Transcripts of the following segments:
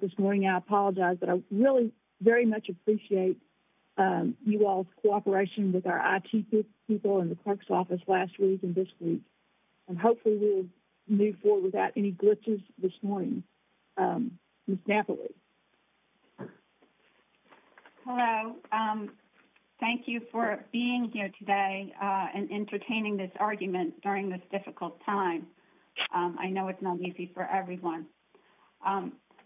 this morning. I apologize, but I really very much appreciate you all's cooperation with our IT people in the clerk's office last week and this week. And hopefully we'll move forward without any glitches this morning. Ms. Napoli. Hello. Thank you for being here today and entertaining this argument during this difficult time. I know it's not easy for everyone.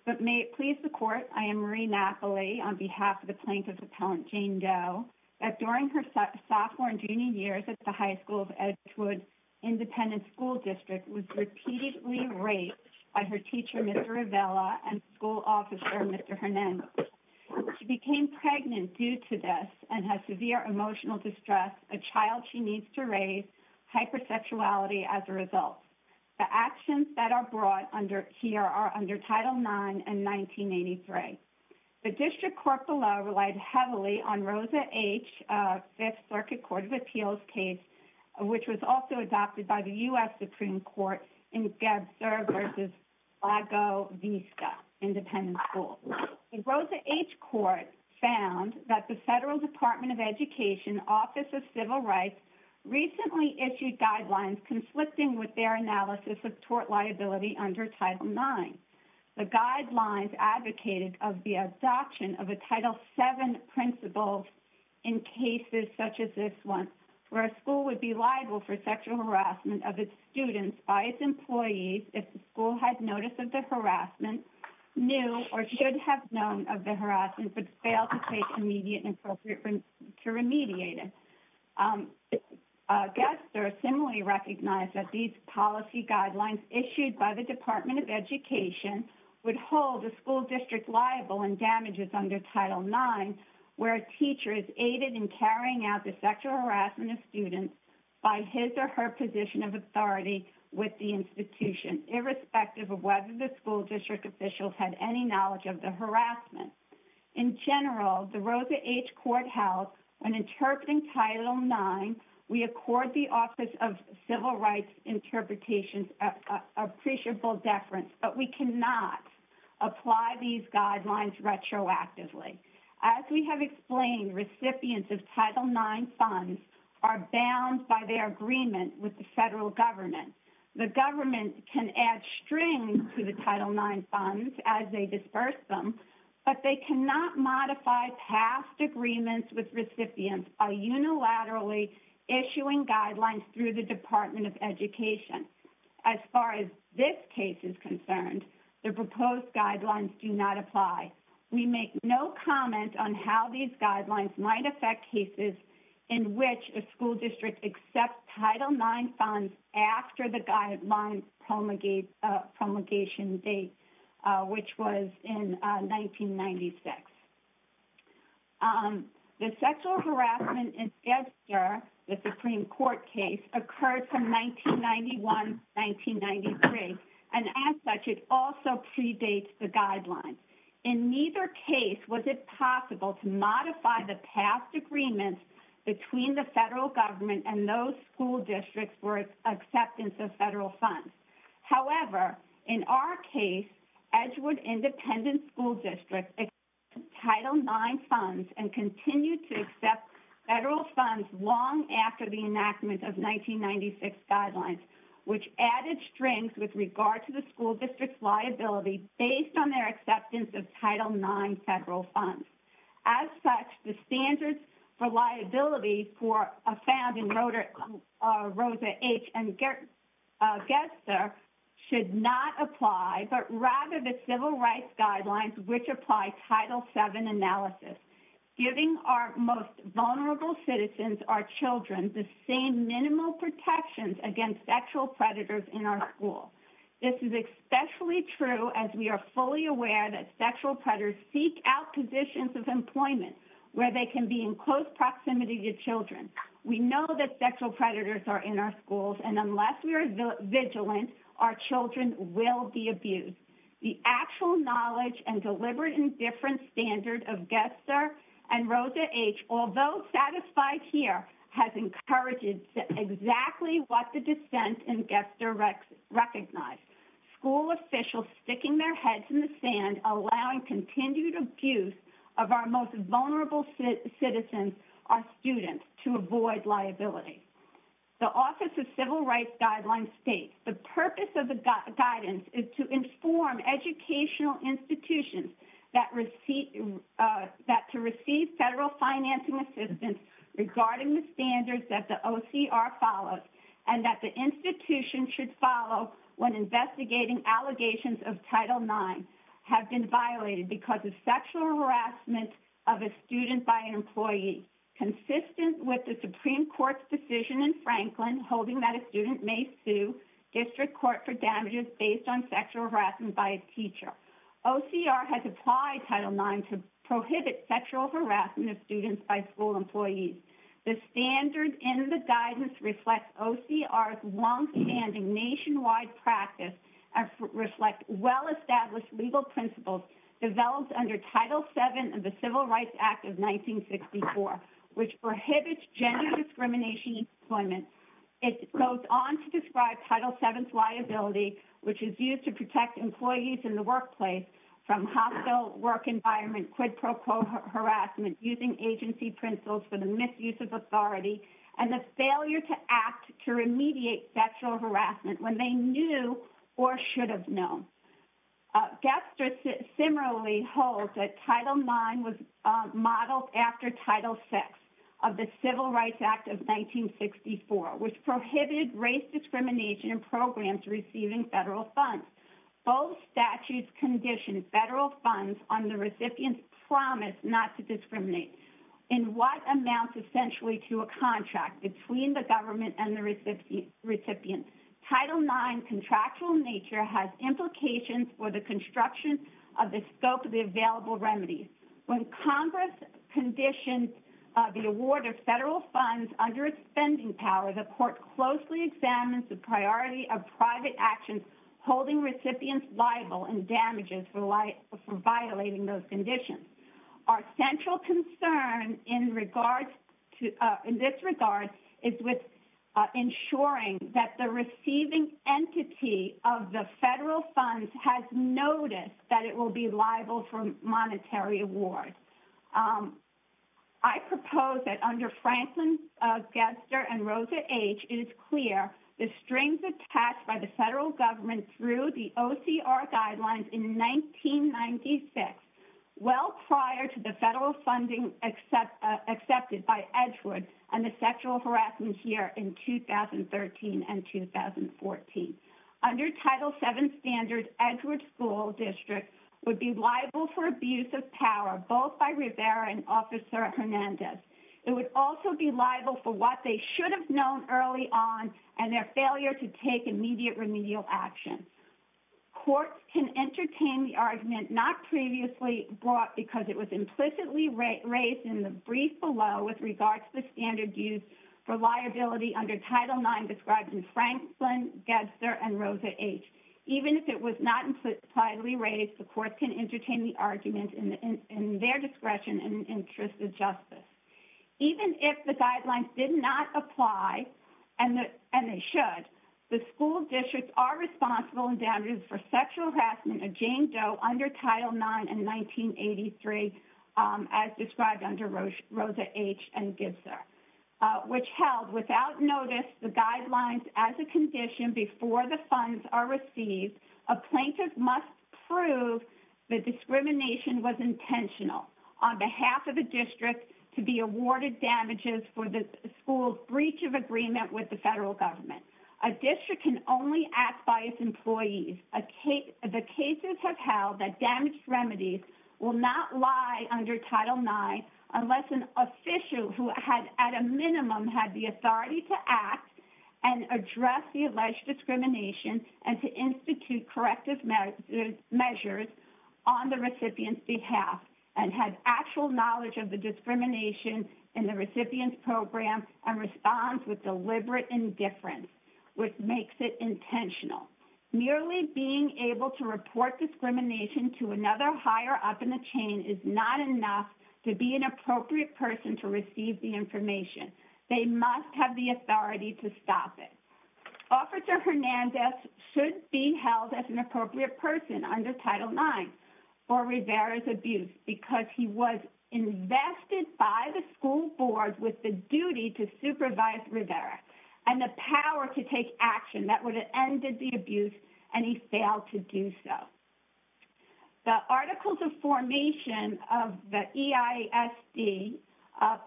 But may it please the court, I am Marie Napoli on behalf of the plaintiff's appellant, Jane Doe, that during her sophomore and junior years at the High School of Edgewood Independent School District was repeatedly raped by her teacher, Mr. Rivela, and school officer, Mr. Hernandez. She became pregnant due to this and has severe emotional distress, a child she needs to raise, hypersexuality as a result. The actions that are brought here are under Title IX and 1983. The district court below relied heavily on Rosa H., Fifth Circuit Court of Appeals case, which was also adopted by the U.S. Supreme Court in Gebzer v. Lago Vista Independent School. The Rosa H. Court found that the Federal Department of Education Office of Civil Rights recently issued guidelines conflicting with their analysis of tort liability under Title IX. The guidelines advocated of the adoption of a Title VII principle in cases such as this one, where a school would be liable for sexual harassment of its students by its employees if the school had notice of the harassment, knew or should have known of the harassment, but failed to take immediate and appropriate to remediate it. Gebzer similarly recognized that these policy guidelines issued by the Department of Education would hold the school district liable in damages under Title IX, where a teacher is aided in carrying out the sexual harassment of students by his or her position of authority with the institution, irrespective of whether the school district officials had any knowledge of the harassment. In general, the Rosa H. Court held when interpreting Title IX, we accord the Office of Civil Rights interpretations appreciable deference, but we cannot apply these guidelines retroactively. As we have explained, recipients of Title IX funds are bound by their agreement with the federal government. The government can add strings to the Title IX funds as they disperse them, but they cannot modify past agreements with recipients by unilaterally issuing guidelines through the Department of Education. As far as this case is concerned, the proposed guidelines do not apply. We make no comment on how these guidelines might affect cases in which a school district accepts Title IX funds after the guideline promulgation date, which was in 1996. The sexual harassment in Gebzer, the Supreme Court case, occurred from 1991 to 1993, and as such, it also predates the guidelines. In neither case was it possible to modify the past agreements between the federal government and those school districts for acceptance of federal funds. However, in our case, Edgewood Independent School District Title IX funds and continued to accept federal funds long after the enactment of 1996 guidelines, which added strings with regard to the school district's liability based on their acceptance of Title IX federal funds. As such, the standards for liability found in Rosa H. and Gebzer should not apply, but rather the civil rights guidelines which apply Title VII analysis, giving our most vulnerable citizens, our children, the same minimal protections against sexual predators in our school. This is especially true as we are fully aware that sexual predators seek out positions of employment where they can be in close proximity to children. We know that sexual predators are in our schools, and unless we are vigilant, our children will be abused. The actual knowledge and deliberate and different standard of Gebzer and Rosa H., although satisfied here, has encouraged exactly what the defense and Gebzer recognized, school officials sticking their heads in the sand, allowing continued abuse of our most vulnerable citizens, our students, to avoid liability. The Office of Civil Rights Guidelines states, the purpose of the guidance is to inform educational institutions that to receive federal financing assistance regarding the standards that the OCR follows, and that the institution should follow when investigating allegations of Title IX, have been violated because of sexual harassment of a student by an employee, consistent with the Supreme Court's decision in Franklin holding that a student may sue district court for damages based on sexual harassment by a teacher. OCR has applied Title IX to prohibit sexual harassment of students by school employees. The standard in the guidance reflects OCR's long-standing nationwide practice and reflect well-established legal principles developed under Title VII of the Civil Rights Act of 1964, which prohibits gender discrimination employment. It goes on to describe Title VII's use to protect employees in the workplace from hostile work environment, quid pro quo harassment, using agency principles for the misuse of authority, and the failure to act to remediate sexual harassment when they knew or should have known. Gebzer similarly holds that Title IX was modeled after Title VI of the Civil Rights Act of 1964, which prohibited race discrimination and programs receiving federal funds. Both statutes condition federal funds on the recipient's promise not to discriminate in what amounts essentially to a contract between the government and the recipient. Title IX's contractual nature has implications for the construction of the scope of the available remedies. When Congress conditions the award of federal funds under its spending power, the court closely examines the priority of private actions holding recipients liable in damages for violating those conditions. Our central concern in this regard is with ensuring that the receiving entity of the federal funds has noticed that it will be Franklin Gebzer and Rosa H., it is clear the strings attached by the federal government through the OCR guidelines in 1996, well prior to the federal funding accepted by Edgewood and the sexual harassment here in 2013 and 2014. Under Title VII standard, Edgewood School District would be liable for abuse of power, both by Rivera and Officer Hernandez. It would also be liable for what they should have known early on and their failure to take immediate remedial action. Courts can entertain the argument not previously brought because it was implicitly raised in the brief below with regard to the standard used for liability under Title IX described in Franklin Gebzer and Rosa H. Even if it was not impliedly raised, the court can entertain the argument in their discretion and interest of justice. Even if the guidelines did not apply, and they should, the school districts are responsible in damages for sexual harassment of Jane Doe under Title IX in 1983 as described under Rosa H. and Gebzer, which held without notice the guidelines as a condition before the funds are received, a plaintiff must prove the discrimination was intentional on behalf of the district to be awarded damages for the school's breach of agreement with the federal government. A district can only act by its employees. The cases have held that damaged remedies will not lie under Title IX unless an minimum had the authority to act and address the alleged discrimination and to institute corrective measures on the recipient's behalf and had actual knowledge of the discrimination in the recipient's program and responds with deliberate indifference, which makes it intentional. Merely being able to report discrimination to another hire up in the chain is not enough to be an appropriate person to receive the information. They must have the authority to stop it. Officer Hernandez should be held as an appropriate person under Title IX for Rivera's abuse because he was invested by the school board with the duty to supervise Rivera and the power to take action that would have ended the abuse, and he failed to do so. The articles of formation of the EISD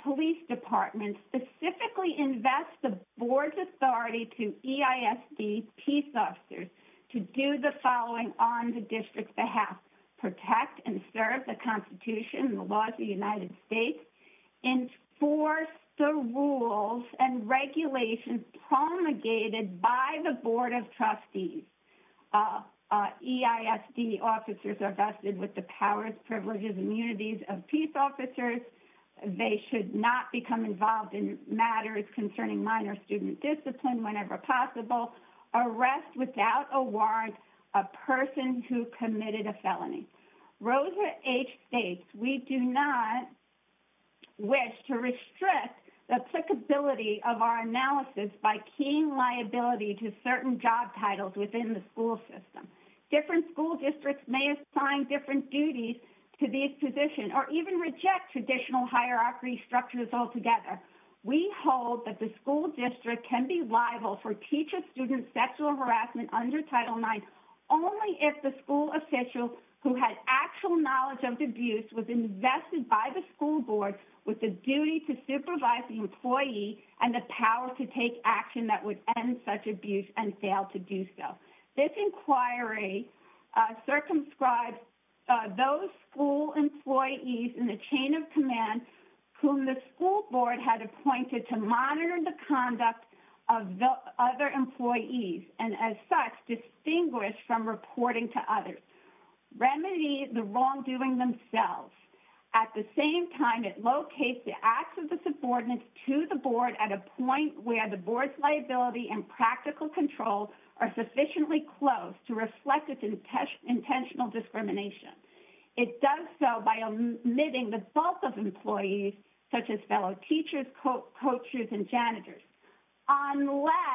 police department specifically invest the board's authority to EISD peace officers to do the following on the district's behalf, protect and serve the Constitution and the laws of the United States, enforce the rules and regulations promulgated by the board of trustees. EISD officers are vested with the powers, privileges, and immunities of peace officers. They should not become involved in matters concerning minor student discipline whenever possible. Arrest without a warrant a person who committed a felony. Rosa H. states, we do not wish to restrict the applicability of our analysis by keying liability to certain job titles within the school system. Different school districts may assign different duties to these positions or even reject traditional hierarchy structures altogether. We hold that the school district can be liable for teacher-student sexual harassment under Title IX only if the school official who had actual knowledge of the abuse was invested by the school board with the duty to supervise the employee and the power to take action that would end such abuse and fail to do so. This inquiry circumscribes those school employees in the chain of command whom the school board had appointed to monitor the conduct of other employees and as such distinguish from reporting to others. Remedy the wrongdoing themselves. At the same time, it locates the acts of the subordinates to the board at a point where the liability and practical control are sufficiently close to reflect its intentional discrimination. It does so by omitting the bulk of employees such as fellow teachers, coaches, and janitors unless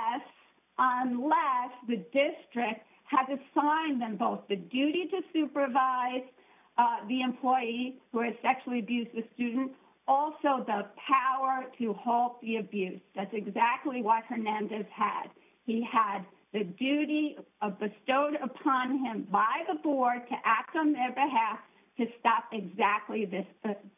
the district has assigned them both the duty to supervise the employee who had abuse. He had the duty bestowed upon him by the board to act on their behalf to stop exactly this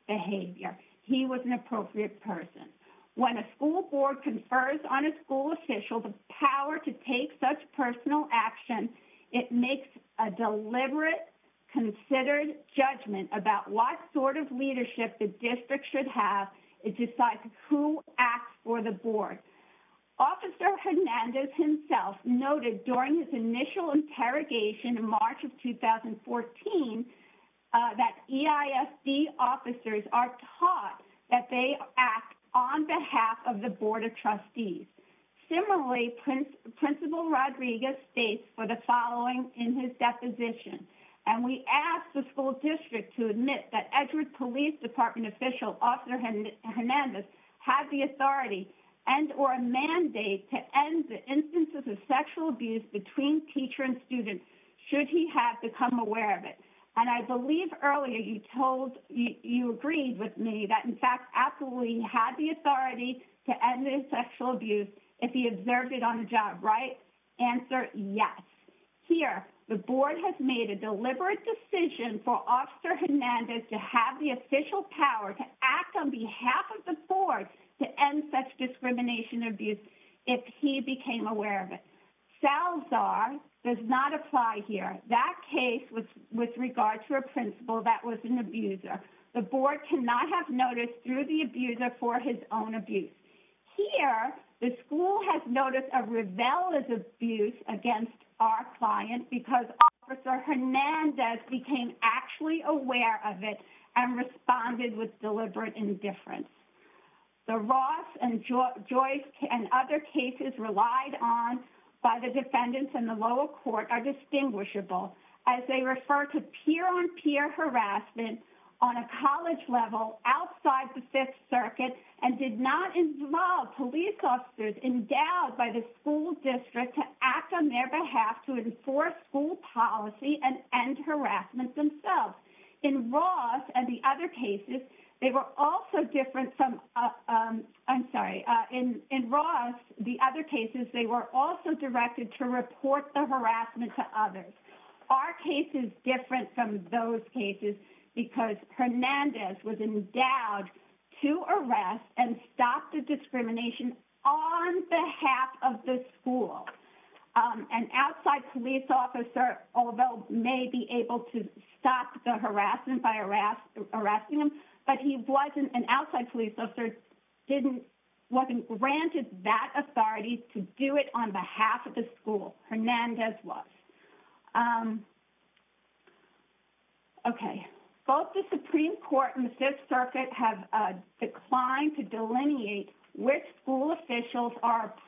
behavior. He was an appropriate person. When a school board confers on a school official the power to take such personal action, it makes a deliberate, considered judgment about what sort leadership the district should have. It decides who acts for the board. Officer Hernandez himself noted during his initial interrogation in March of 2014 that EISD officers are taught that they act on behalf of the board of trustees. Similarly, principal Rodriguez states for the following in his deposition, and we ask the school district to admit that police department official had the authority and or a mandate to end the instances of sexual abuse between teacher and student should he have become aware of it. I believe earlier you told, you agreed with me that, in fact, absolutely he had the authority to end the sexual abuse if he observed it on the job, answer yes. Here, the board has made a deliberate decision for officer Hernandez to have the official power to act on behalf of the board to end such discrimination abuse if he became aware of it. Salazar does not apply here. That case was with regard to a principal that was an abuser. The board cannot have noticed through the abuser for his own abuse. Here, the school has noticed a rebellious abuse against our client because officer Hernandez became actually aware of it and responded with deliberate indifference. The Ross and Joyce and other cases relied on by the defendants in the lower court are distinguishable as they refer to peer-on-peer harassment on a college level outside the Fifth Circuit and did not involve police officers endowed by the school district to act on their behalf to enforce school policy and end harassment themselves. In Ross and the other cases, they were also different from, I'm sorry, in Ross, the other cases, they were also directed to report the harassment to others. Our case is different from those cases because Hernandez was endowed to arrest and stop the harassment on behalf of the school. An outside police officer may be able to stop the harassment by arresting him, but an outside police officer wasn't granted that authority to do it on behalf of the school. Hernandez was. Both the Supreme Court and the Fifth Circuit have declined to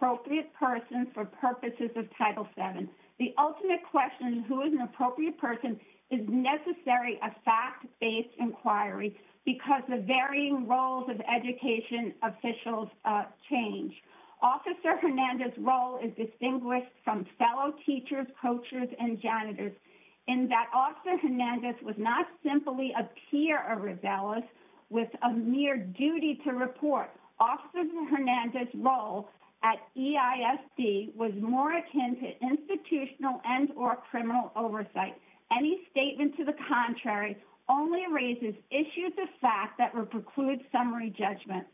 appropriate persons for purposes of Title VII. The ultimate question, who is an appropriate person, is necessary a fact-based inquiry because the varying roles of education officials change. Officer Hernandez' role is distinguished from fellow teachers, coaches, and janitors in that officer Hernandez was not simply a peer of rebellious with a mere duty to report. Officer Hernandez' role at EISD was more akin to institutional and or criminal oversight. Any statement to the contrary only raises issues of fact that would preclude summary judgment.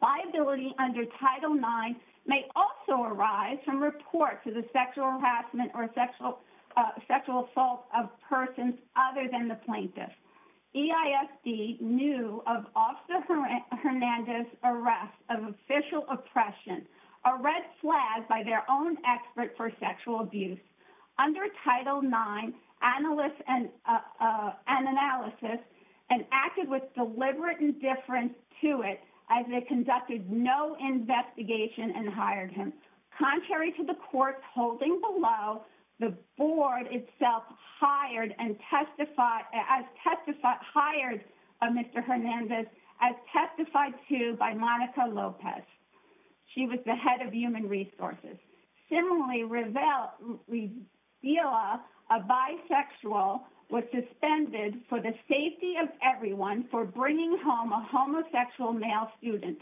Viability under Title IX may also arise from reports of the sexual harassment or sexual assault of persons other than the plaintiff. EISD knew of Officer Hernandez' arrest of official oppression, a red flag by their own expert for sexual abuse. Under Title IX, analysts and analysis acted with deliberate indifference to it as they conducted no investigation and hired him. Contrary to the court's holding below, the board itself hired Mr. Hernandez as testified to by Monica Lopez. She was the head of human resources. Similarly, Revela, a bisexual, was suspended for the safety of everyone for bringing home homosexual male students,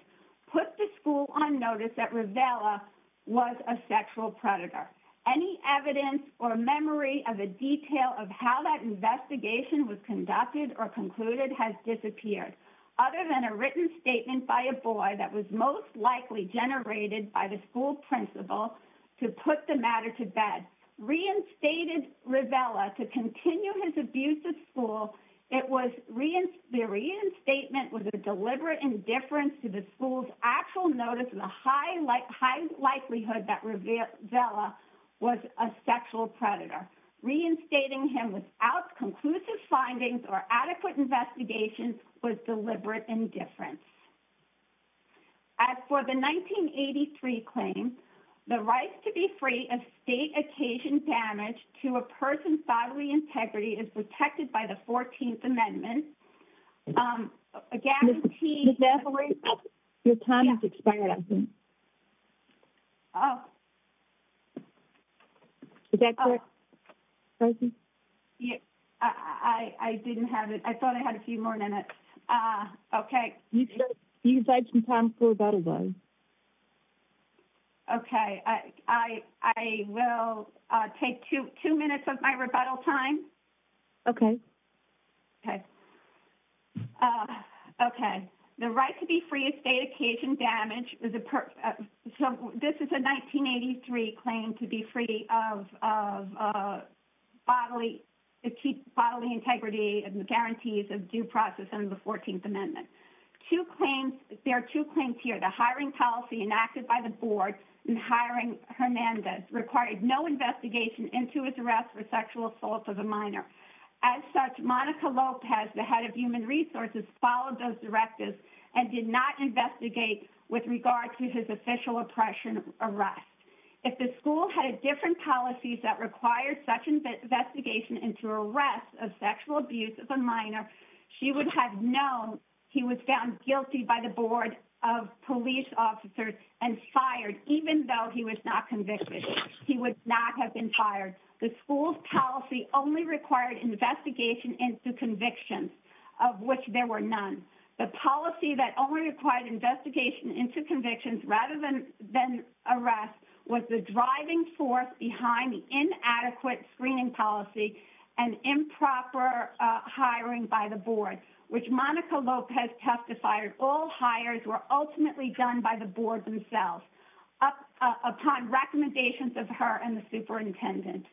put the school on notice that Revela was a sexual predator. Any evidence or memory of a detail of how that investigation was conducted or concluded has disappeared. Other than a written statement by a boy that was most likely generated by the school principal to put the matter to bed, reinstated Revela to continue his abuse of school. It was the reinstatement with a deliberate indifference to the school's actual notice and the high likelihood that Revela was a sexual predator. Reinstating him without conclusive findings or adequate investigation was deliberate indifference. As for the 1983 claim, the right to be free of state occasion damage to a person's bodily integrity is protected by the amendment. I will take two minutes of my rebuttal time. Okay. Okay. The right to be free of state occasion damage, so this is a 1983 claim to be free of bodily integrity and guarantees of due process under the 14th amendment. Two claims, there are two claims here. The hiring policy enacted by the As such, Monica Lopez, the head of human resources, followed those directives and did not investigate with regard to his official oppression arrest. If the school had different policies that required such an investigation into arrest of sexual abuse of a minor, she would have known he was found guilty by the board of police officers and fired even though he was not convicted. He would not have been fired. The school's policy only required investigation into convictions, of which there were none. The policy that only required investigation into convictions rather than arrest was the driving force behind the inadequate screening policy and improper hiring by the board, which Monica Lopez testified all hires were done by the board themselves upon recommendations of her and the superintendent.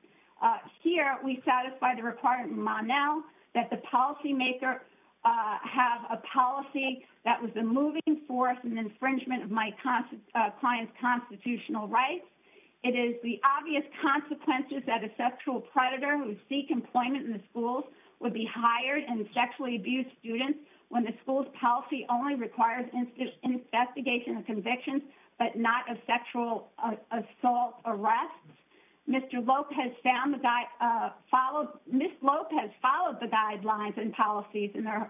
Here, we satisfy the requirement that the policymaker have a policy that was a moving force and infringement of my client's constitutional rights. It is the obvious consequences that a sexual predator who would seek employment in the schools would be hired and sexually abused when the school's policy only requires an investigation of convictions but not a sexual assault arrest. Ms. Lopez followed the guidelines and policies in her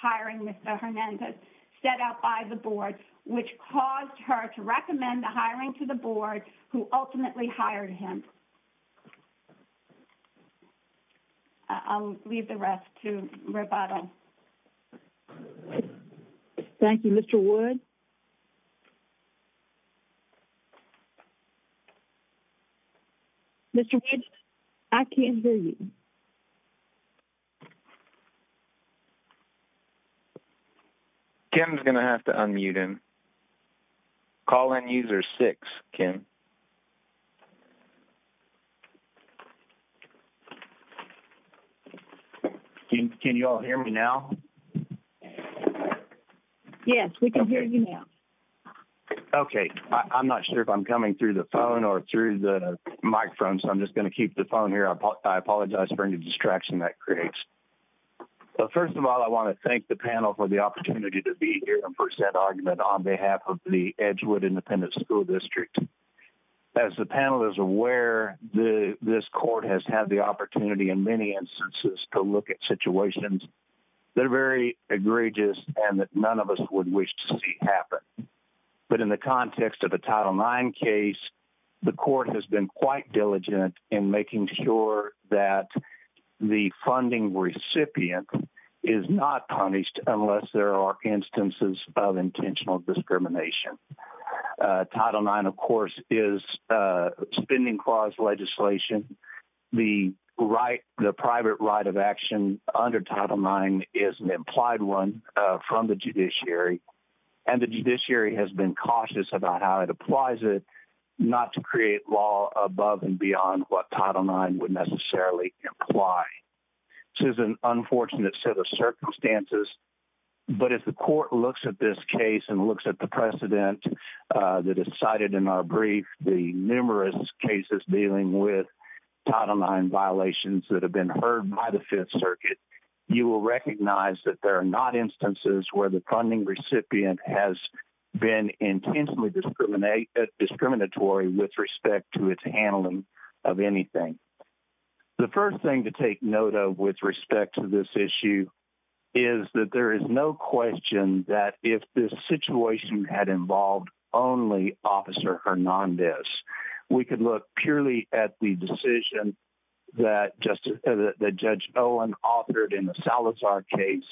hiring with Mr. Hernandez set out by the board, which caused her to recommend the hiring to the board who ultimately hired him. I will leave the rest to Roberto. Thank you, Mr. Wood. Mr. Wood, I can't hear you. Kim's going to have to unmute him. Call in user six, Kim. Can you all hear me now? Yes, we can hear you now. Okay. I'm not sure if I'm coming through the phone or through the microphone, so I'm just keep the phone here. I apologize for any distraction that creates. First of all, I want to thank the panel for the opportunity to be here and present argument on behalf of the Edgewood Independent School District. As the panel is aware, this court has had the opportunity in many instances to look at situations that are very egregious and that none of us would wish to see but in the context of a Title IX case, the court has been quite diligent in making sure that the funding recipient is not punished unless there are instances of intentional discrimination. Title IX, of course, is a spending clause legislation. The private right of action under Title IX is an implied one from the judiciary, and the judiciary has been cautious about how it applies it not to create law above and beyond what Title IX would necessarily imply. This is an unfortunate set of circumstances, but if the court looks at this case and looks at the precedent that is cited in our brief, the numerous cases dealing with Title IX violations that have been heard by the Fifth Circuit, you will recognize that there are not instances where the funding recipient has been intentionally discriminatory with respect to its handling of anything. The first thing to take note of with respect to this issue is that there is no question that if this situation had involved only Officer Hernandez, we could look purely at the decision that Judge Olin authored in the Salazar case,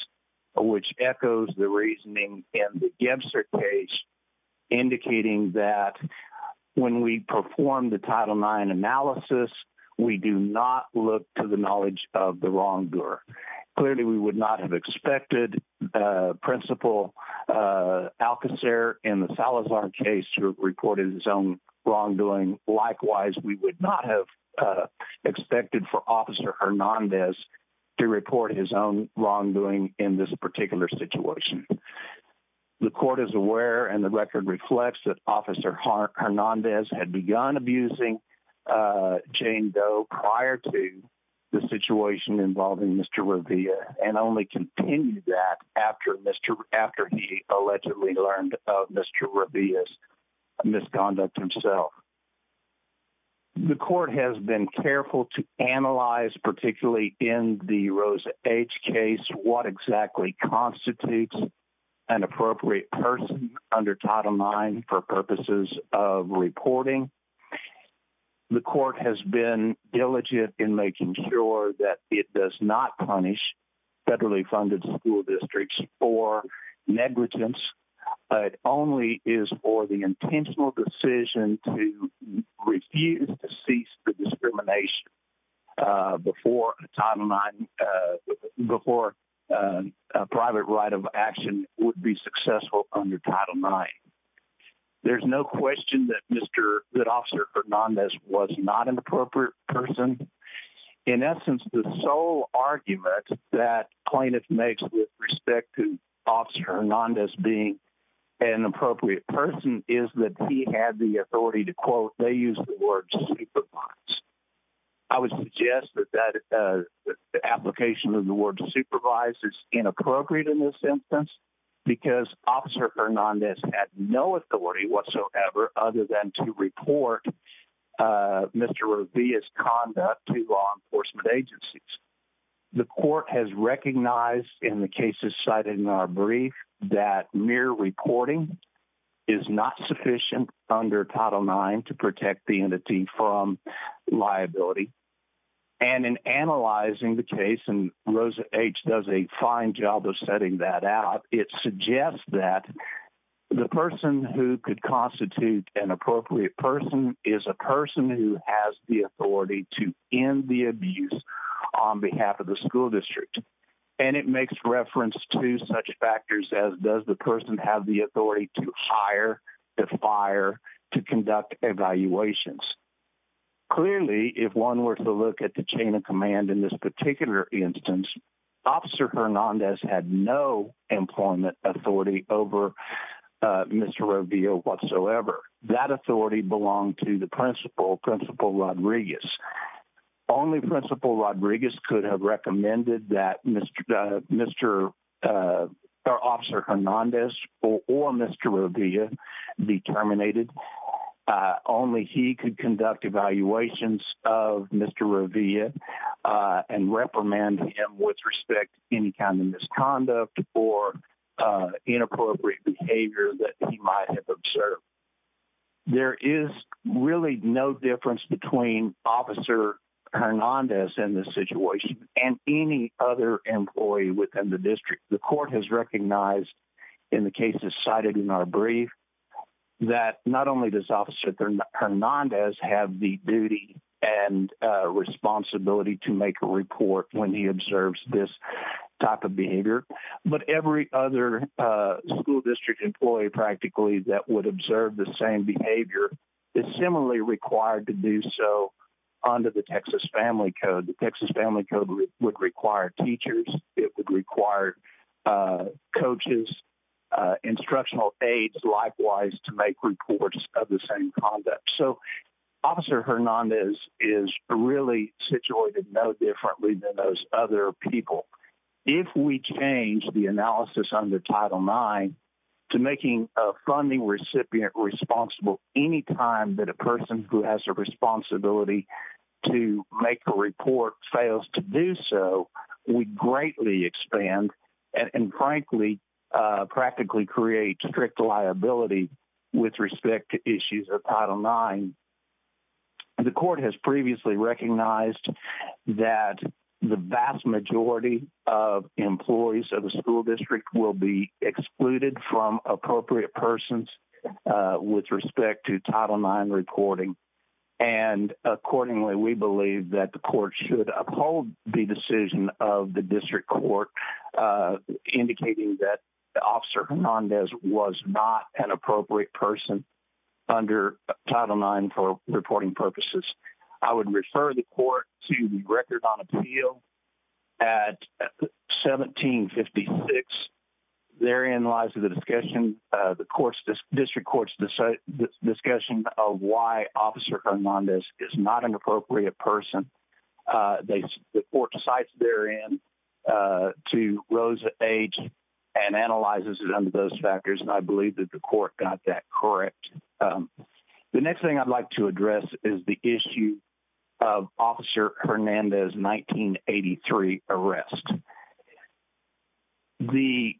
which echoes the reasoning in the Gebster case, indicating that when we perform the Title IX analysis, we do not look to the knowledge of the wrongdoer. Clearly, we would not have expected Principal Alcocer in the Salazar case to report his own wrongdoing. Likewise, we would not have expected for Officer Hernandez to report his own wrongdoing in this particular situation. The court is aware and the record reflects that Officer Hernandez had begun abusing Jane Doe prior to the situation involving Mr. Rabia's misconduct himself. The court has been careful to analyze, particularly in the Rosa H case, what exactly constitutes an appropriate person under Title IX for purposes of reporting. The court has been diligent in making sure that it does not punish federally funded school districts for negligence, but only is for the intentional decision to refuse to cease the discrimination before a private right of action would be successful under Title IX. There's no question that Officer Hernandez was not an appropriate person. In essence, the sole argument that plaintiff makes with respect to Officer Hernandez being an appropriate person is that he had the authority to, quote, they use the word supervise. I would suggest that the application of the word supervise is inappropriate in this instance, because Officer Hernandez had no authority whatsoever other than to report Mr. Rabia's conduct to law enforcement agencies. The court has recognized in the cases cited in our brief that mere reporting is not sufficient under Title IX to protect the entity from liability. And in analyzing the case, and Rosa H does a fine job of setting that out, it suggests that the person who could constitute an appropriate person is a person who has the authority to end the abuse on behalf of the school district. And it makes reference to such factors as does the person have the authority to hire, to fire, to conduct evaluations. Clearly, if one were to look at the chain of command in this particular instance, Officer Hernandez had no employment authority over Mr. Rabia whatsoever. That authority belonged to the principal, Principal Rodriguez. Only Principal Rodriguez could have recommended that Mr. Officer Hernandez or Mr. Rabia be terminated. Only he could conduct evaluations of Mr. Rabia and reprimand him with any kind of misconduct or inappropriate behavior that he might have observed. There is really no difference between Officer Hernandez in this situation and any other employee within the district. The court has recognized in the cases cited in our brief that not only does Officer Hernandez have the duty and responsibility to make a report when he observes this type of behavior, but every other school district employee practically that would observe the same behavior is similarly required to do so under the Texas Family Code. The Texas Family Code would require teachers, it would require coaches, instructional aides likewise to make reports of the same conduct. So Officer Hernandez is really situated no other people. If we change the analysis under Title IX to making a funding recipient responsible anytime that a person who has a responsibility to make a report fails to do so, we greatly expand and frankly, practically create strict liability with respect to issues of Title IX. The court has previously recognized that the vast majority of employees of the school district will be excluded from appropriate persons with respect to Title IX reporting. And accordingly, we believe that the court should uphold the decision of the district court indicating that Officer Hernandez was not an appropriate person under Title IX for reporting purposes. I would refer the court to the record on appeal at 1756. Therein lies the discussion, the district court's discussion of why Officer Hernandez is not an appropriate person. The court cites therein to Rosa H and I believe that the court got that correct. The next thing I'd like to address is the issue of Officer Hernandez 1983 arrest. The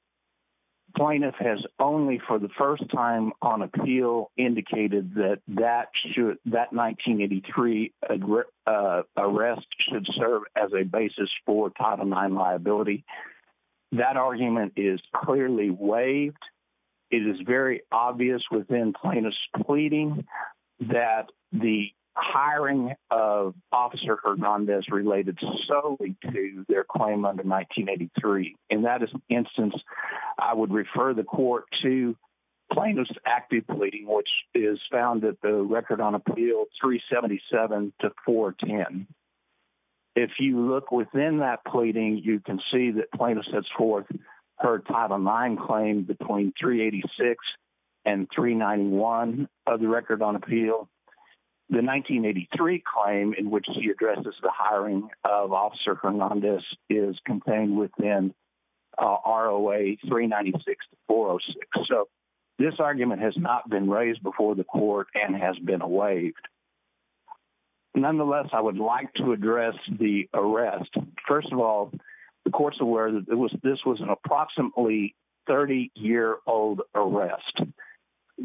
plaintiff has only for the first time on appeal indicated that that 1983 arrest should serve as a basis for Title IX liability. That argument is clearly waived. It is very obvious within plaintiff's pleading that the hiring of Officer Hernandez related solely to their claim under 1983. In that instance, I would refer the court to plaintiff's active pleading, which is found at the record on appeal 377 to 410. If you look within that pleading, you can see that plaintiff sets forth her Title IX claim between 386 and 391 of the record on appeal. The 1983 claim in which he addresses the hiring of Officer Hernandez is contained within ROA 396 to 406. So this argument has not been raised before the court and has been waived. Nonetheless, I would like to address the arrest. First of all, the court's aware that this was an approximately 30-year-old arrest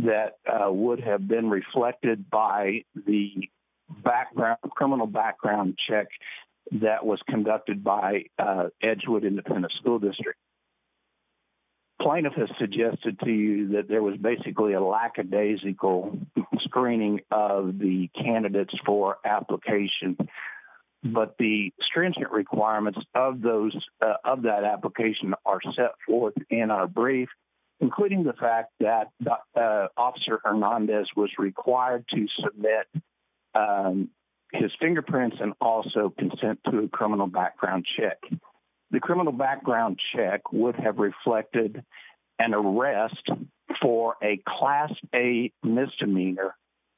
that would have been reflected by the criminal background check that was conducted by Edgewood Independent School District. The plaintiff has suggested to you that there was basically a lackadaisical screening of the candidates for application, but the stringent requirements of that application are set forth in our brief, including the fact that Officer Hernandez was required to submit his fingerprints and also consent to a criminal background check. The criminal background check would have reflected an arrest for a Class A misdemeanor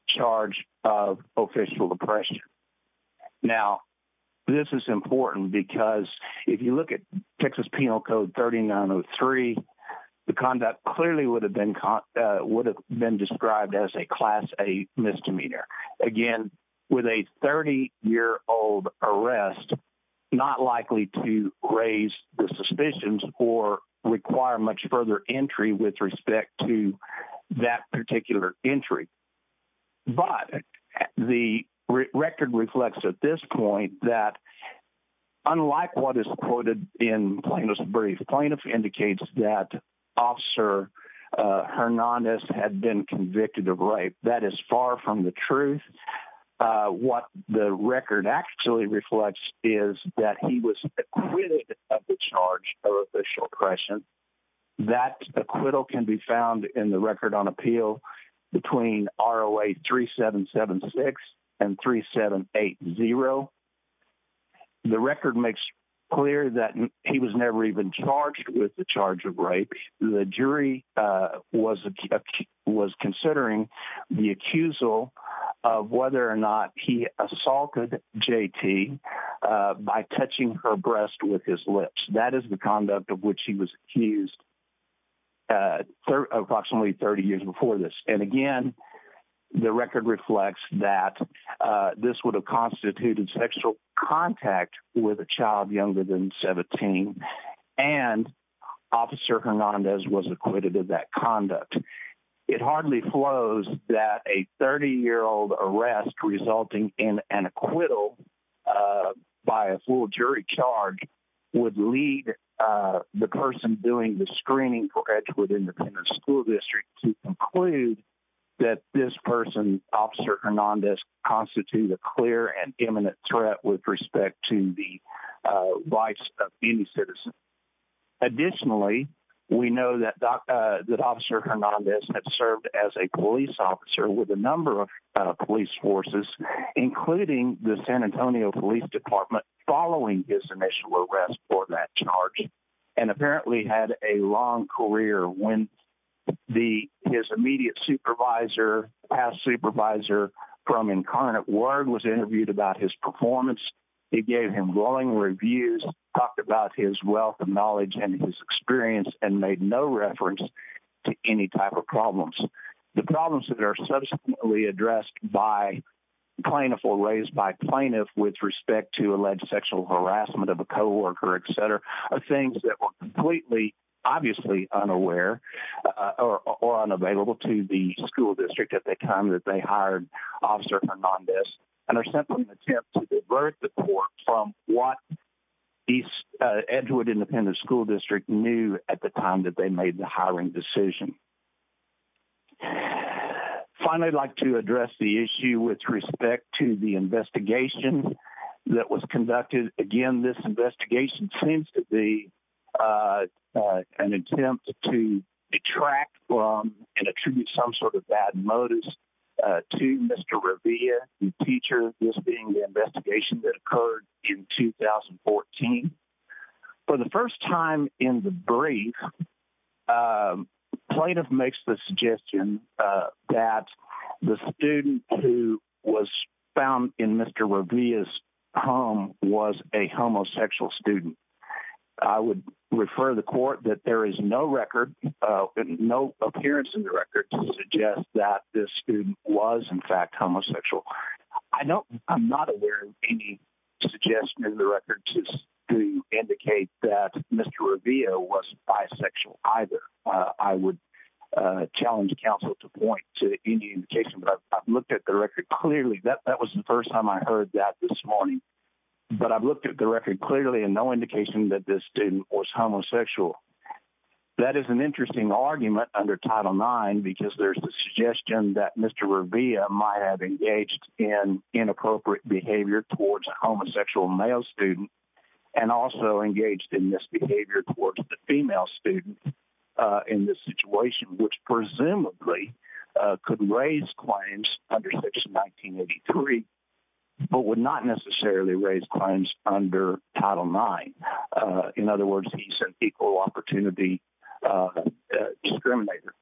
charge of official oppression. Now, this is important because if you look at Texas Penal Code 3903, the conduct clearly would have been described as a Class A misdemeanor. Again, with a 30-year-old arrest, not likely to raise the suspicions or require much further entry with respect to that particular entry. But the record reflects at this point that, unlike what is quoted in Plaintiff's brief, the plaintiff indicates that Officer Hernandez had been convicted of rape. That is far from the truth. What the record actually reflects is that he was acquitted of the charge of official oppression. That acquittal can be found in the record on appeal between ROA 3776 and 3780. The record makes clear that he was never even charged with the charge of the accusal of whether or not he assaulted JT by touching her breast with his lips. That is the conduct of which he was accused approximately 30 years before this. And again, the record reflects that this would have constituted sexual contact with a child younger than 17, and Officer Hernandez was acquitted of that conduct. It hardly flows that a 30-year-old arrest resulting in an acquittal by a full jury charge would lead the person doing the screening for Edgewood Independent School District to conclude that this person, Officer Hernandez, constitutes a clear and that Officer Hernandez had served as a police officer with a number of police forces, including the San Antonio Police Department, following his initial arrest for that charge, and apparently had a long career. When his immediate supervisor, past supervisor from Incarnate Word, was interviewed about his performance, he gave him glowing reviews, talked about his wealth of knowledge and his experience, and made no reference to any type of problems. The problems that are subsequently addressed by plaintiff or raised by plaintiff with respect to alleged sexual harassment of a co-worker, etc., are things that were completely, obviously, unaware or unavailable to the school district at the time that they hired Officer Hernandez, and are simply an attempt to divert the court from what the Edgewood Independent School District knew at the time that they made the hiring decision. Finally, I'd like to address the issue with respect to the investigation that was conducted. Again, this investigation seems to be an attempt to detract from and reveal the teacher, this being the investigation that occurred in 2014. For the first time in the brief, plaintiff makes the suggestion that the student who was found in Mr. Revia's home was a homosexual student. I would refer the court that there is no record, no appearance in the record, to suggest that this student was, in fact, homosexual. I'm not aware of any suggestion in the record to indicate that Mr. Revia was bisexual, either. I would challenge counsel to point to any indication, but I've looked at the record clearly. That was the first time I heard that this morning, but I've looked at the record clearly and no indication that this student was homosexual. That is an interesting argument under Title IX, because there's the suggestion that Mr. Revia might have engaged in inappropriate behavior towards a homosexual male student and also engaged in misbehavior towards the female student in this situation, which presumably could raise claims under Section 1983, but would not necessarily raise claims under Title IX. In other words, he's an equal opportunity discriminator.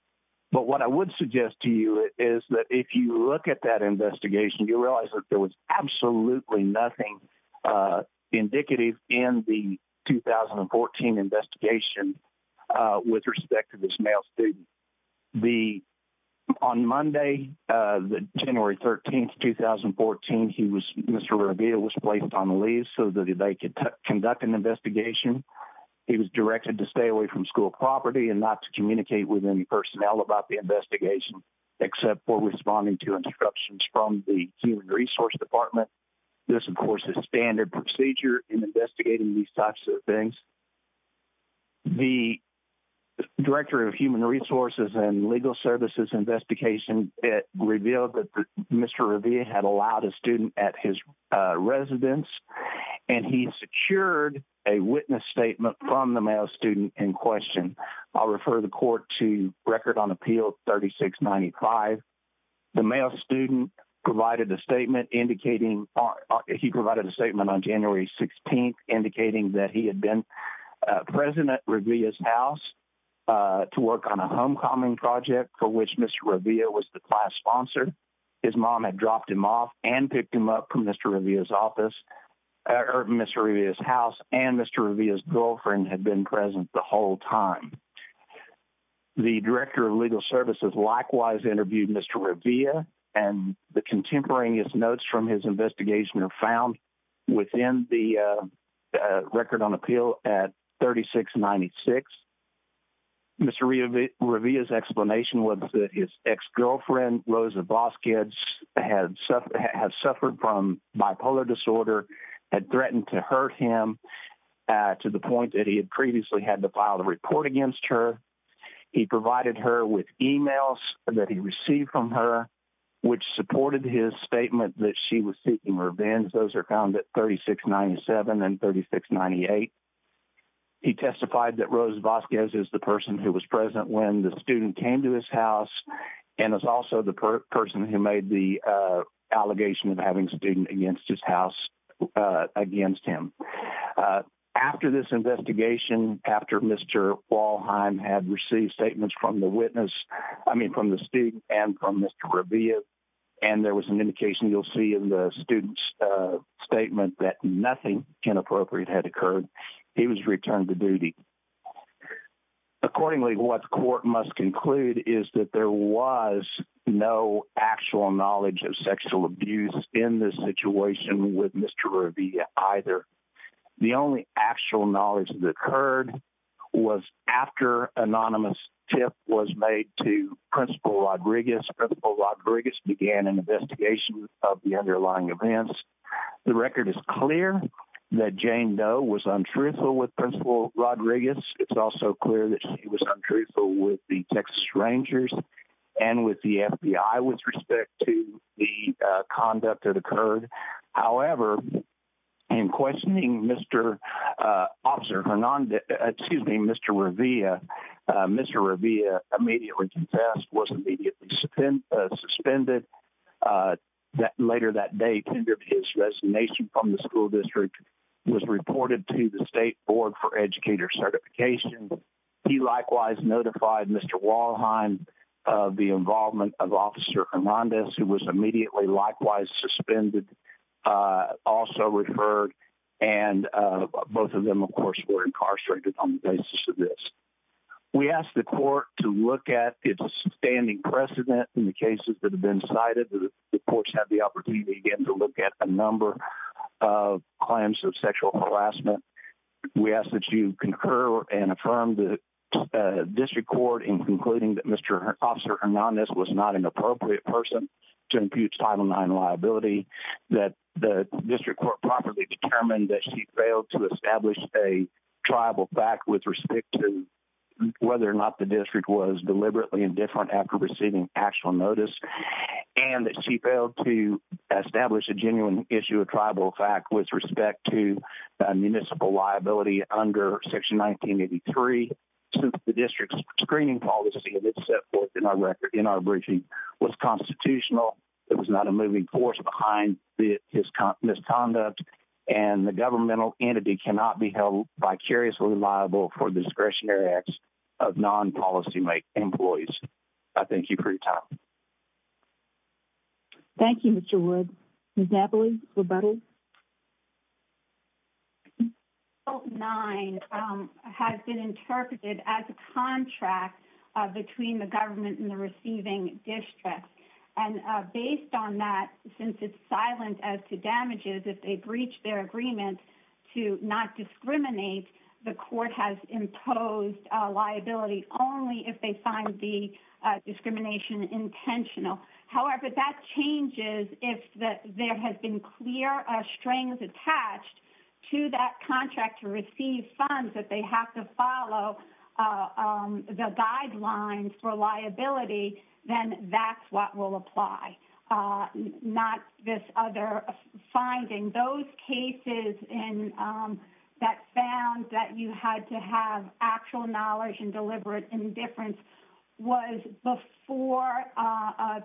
But what I would suggest to you is that if you look at that investigation, you realize that there was absolutely nothing indicative in the 2014 investigation with respect to this male student. On Monday, January 13, 2014, Mr. Revia was placed on leave so that they could conduct an investigation. He was directed to stay away from school property and not to communicate with any personnel about the investigation, except for responding to instructions from the Human Resource Department. This, of course, is standard procedure in investigating these types of things. The Director of Human Resources and Legal Services Investigation revealed that Mr. Revia had allowed a student at his residence, and he secured a witness statement from the male student in question. I'll refer the Court to Record on Appeal 3695. The male student provided a statement indicating—he provided a statement on January 16 indicating that he had been present at Revia's house to work on a homecoming project for which Mr. Revia was the class sponsor. His mom had picked him up from Mr. Revia's office—or Mr. Revia's house, and Mr. Revia's girlfriend had been present the whole time. The Director of Legal Services likewise interviewed Mr. Revia, and the contemporaneous notes from his investigation are found within the Record on Appeal at 3696. Mr. Revia's explanation was that his ex-girlfriend, Rosa Voskic, had suffered from bipolar disorder, had threatened to hurt him to the point that he had previously had to file a report against her. He provided her with emails that he received from her, which supported his testimony. He testified that Rosa Voskic is the person who was present when the student came to his house and is also the person who made the allegation of having a student against his house against him. After this investigation, after Mr. Walheim had received statements from the witness—I mean from the student and from Mr. Revia—and there was an indication, you'll see in the statement, that nothing inappropriate had occurred, he was returned to duty. Accordingly, what the court must conclude is that there was no actual knowledge of sexual abuse in this situation with Mr. Revia either. The only actual knowledge that occurred was after anonymous tip was made to Principal Rodriguez. Principal Rodriguez began an investigation of the underlying events. The record is clear that Jane Doe was untruthful with Principal Rodriguez. It's also clear that she was untruthful with the Texas Rangers and with the FBI with respect to the conduct that occurred. However, in questioning Mr. Revia, Mr. Revia immediately confessed, was immediately suspended. Later that day, his resignation from the school district was reported to the State Board for Educator Certification. He likewise notified Mr. Walheim of the involvement of Officer Hernandez, who was immediately likewise suspended, also referred, and both of them, of course, were incarcerated on the basis of this. We ask the court to look at the sustaining precedent in the cases that have been cited. The courts have the opportunity again to look at a number of claims of sexual harassment. We ask that you concur and affirm the district court in concluding that Mr. Officer Hernandez was not an appropriate person to impute Title IX liability, that the district court properly determined that she failed to establish a tribal fact with respect to whether or not the district was deliberately indifferent after receiving actual notice, and that she failed to establish a genuine issue of tribal fact with respect to municipal liability under Section 1983. Since the district's screening policy that was set forth in our briefing was constitutional, it was not a moving force behind his misconduct, and the governmental entity cannot be held vicariously liable for discretionary acts of non-policy employees. I thank you for your time. Thank you, Mr. Wood. Ms. Napoli, rebuttal? Title IX has been interpreted as a contract between the government and the receiving district, and based on that, since it's silent as to damages, if they breach their agreement to not discriminate, the court has imposed liability only if they find the discrimination intentional. However, that changes if there have been clear strings attached to that contract to apply, not this other finding. Those cases that found that you had to have actual knowledge and deliberate indifference was before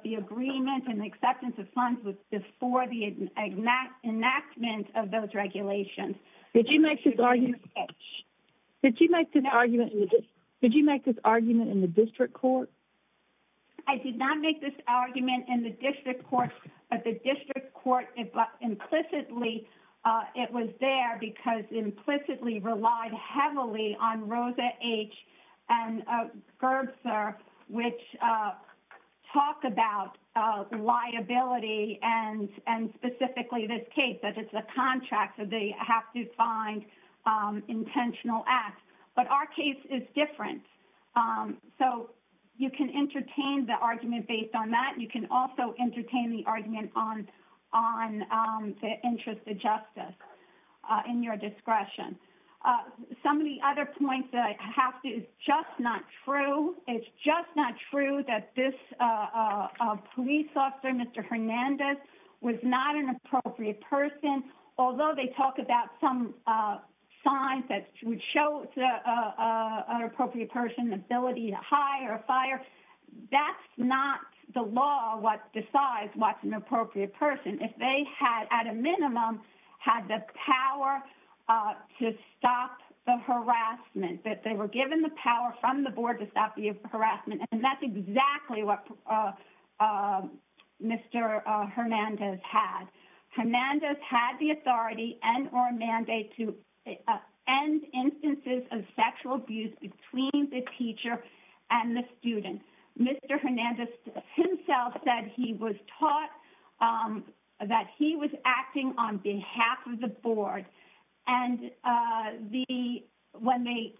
the agreement and acceptance of funds was before the enactment of those regulations. Did you make this argument in the district court? I did not make this argument in the district court, but the district court, implicitly, it was there because implicitly relied heavily on Rosa H. and Gerbser, which talk about liability and specifically this case, that it's a contract, so they have to find intentional acts. But our case is different, so you can entertain the argument based on that. You can also entertain the argument on the interest of justice in your discretion. Some of the other points that I have is just not true. It's just not true that this police officer, Mr. Hernandez, was not an appropriate person, although they talk about some signs that would show an appropriate person the ability to hire a fire, that's not the law what decides what's an appropriate person. If they had, at a minimum, had the power to stop the harassment, that they were given the power from the board to stop the harassment, and that's exactly what Mr. Hernandez had. Hernandez had the authority and or mandate to end instances of sexual abuse between the teacher and the student. Mr. Hernandez himself said he was taught that he was acting on behalf of the board, and when they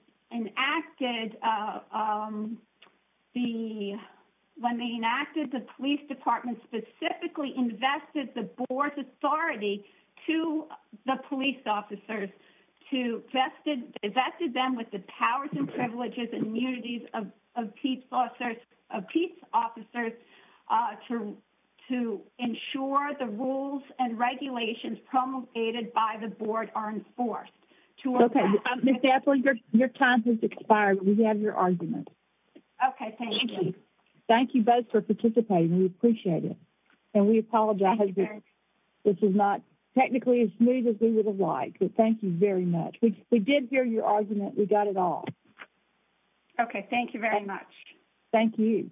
enacted the police department specifically invested the board's authority to the police officers, to vested them with the powers and privileges and immunities of the police department. Ms. Apley, your time has expired. We have your argument. Okay, thank you. Thank you both for participating. We appreciate it, and we apologize. This is not technically as smooth as we would have liked, but thank you very much. We did hear your argument. We got it all. Okay, thank you very much. Thank you.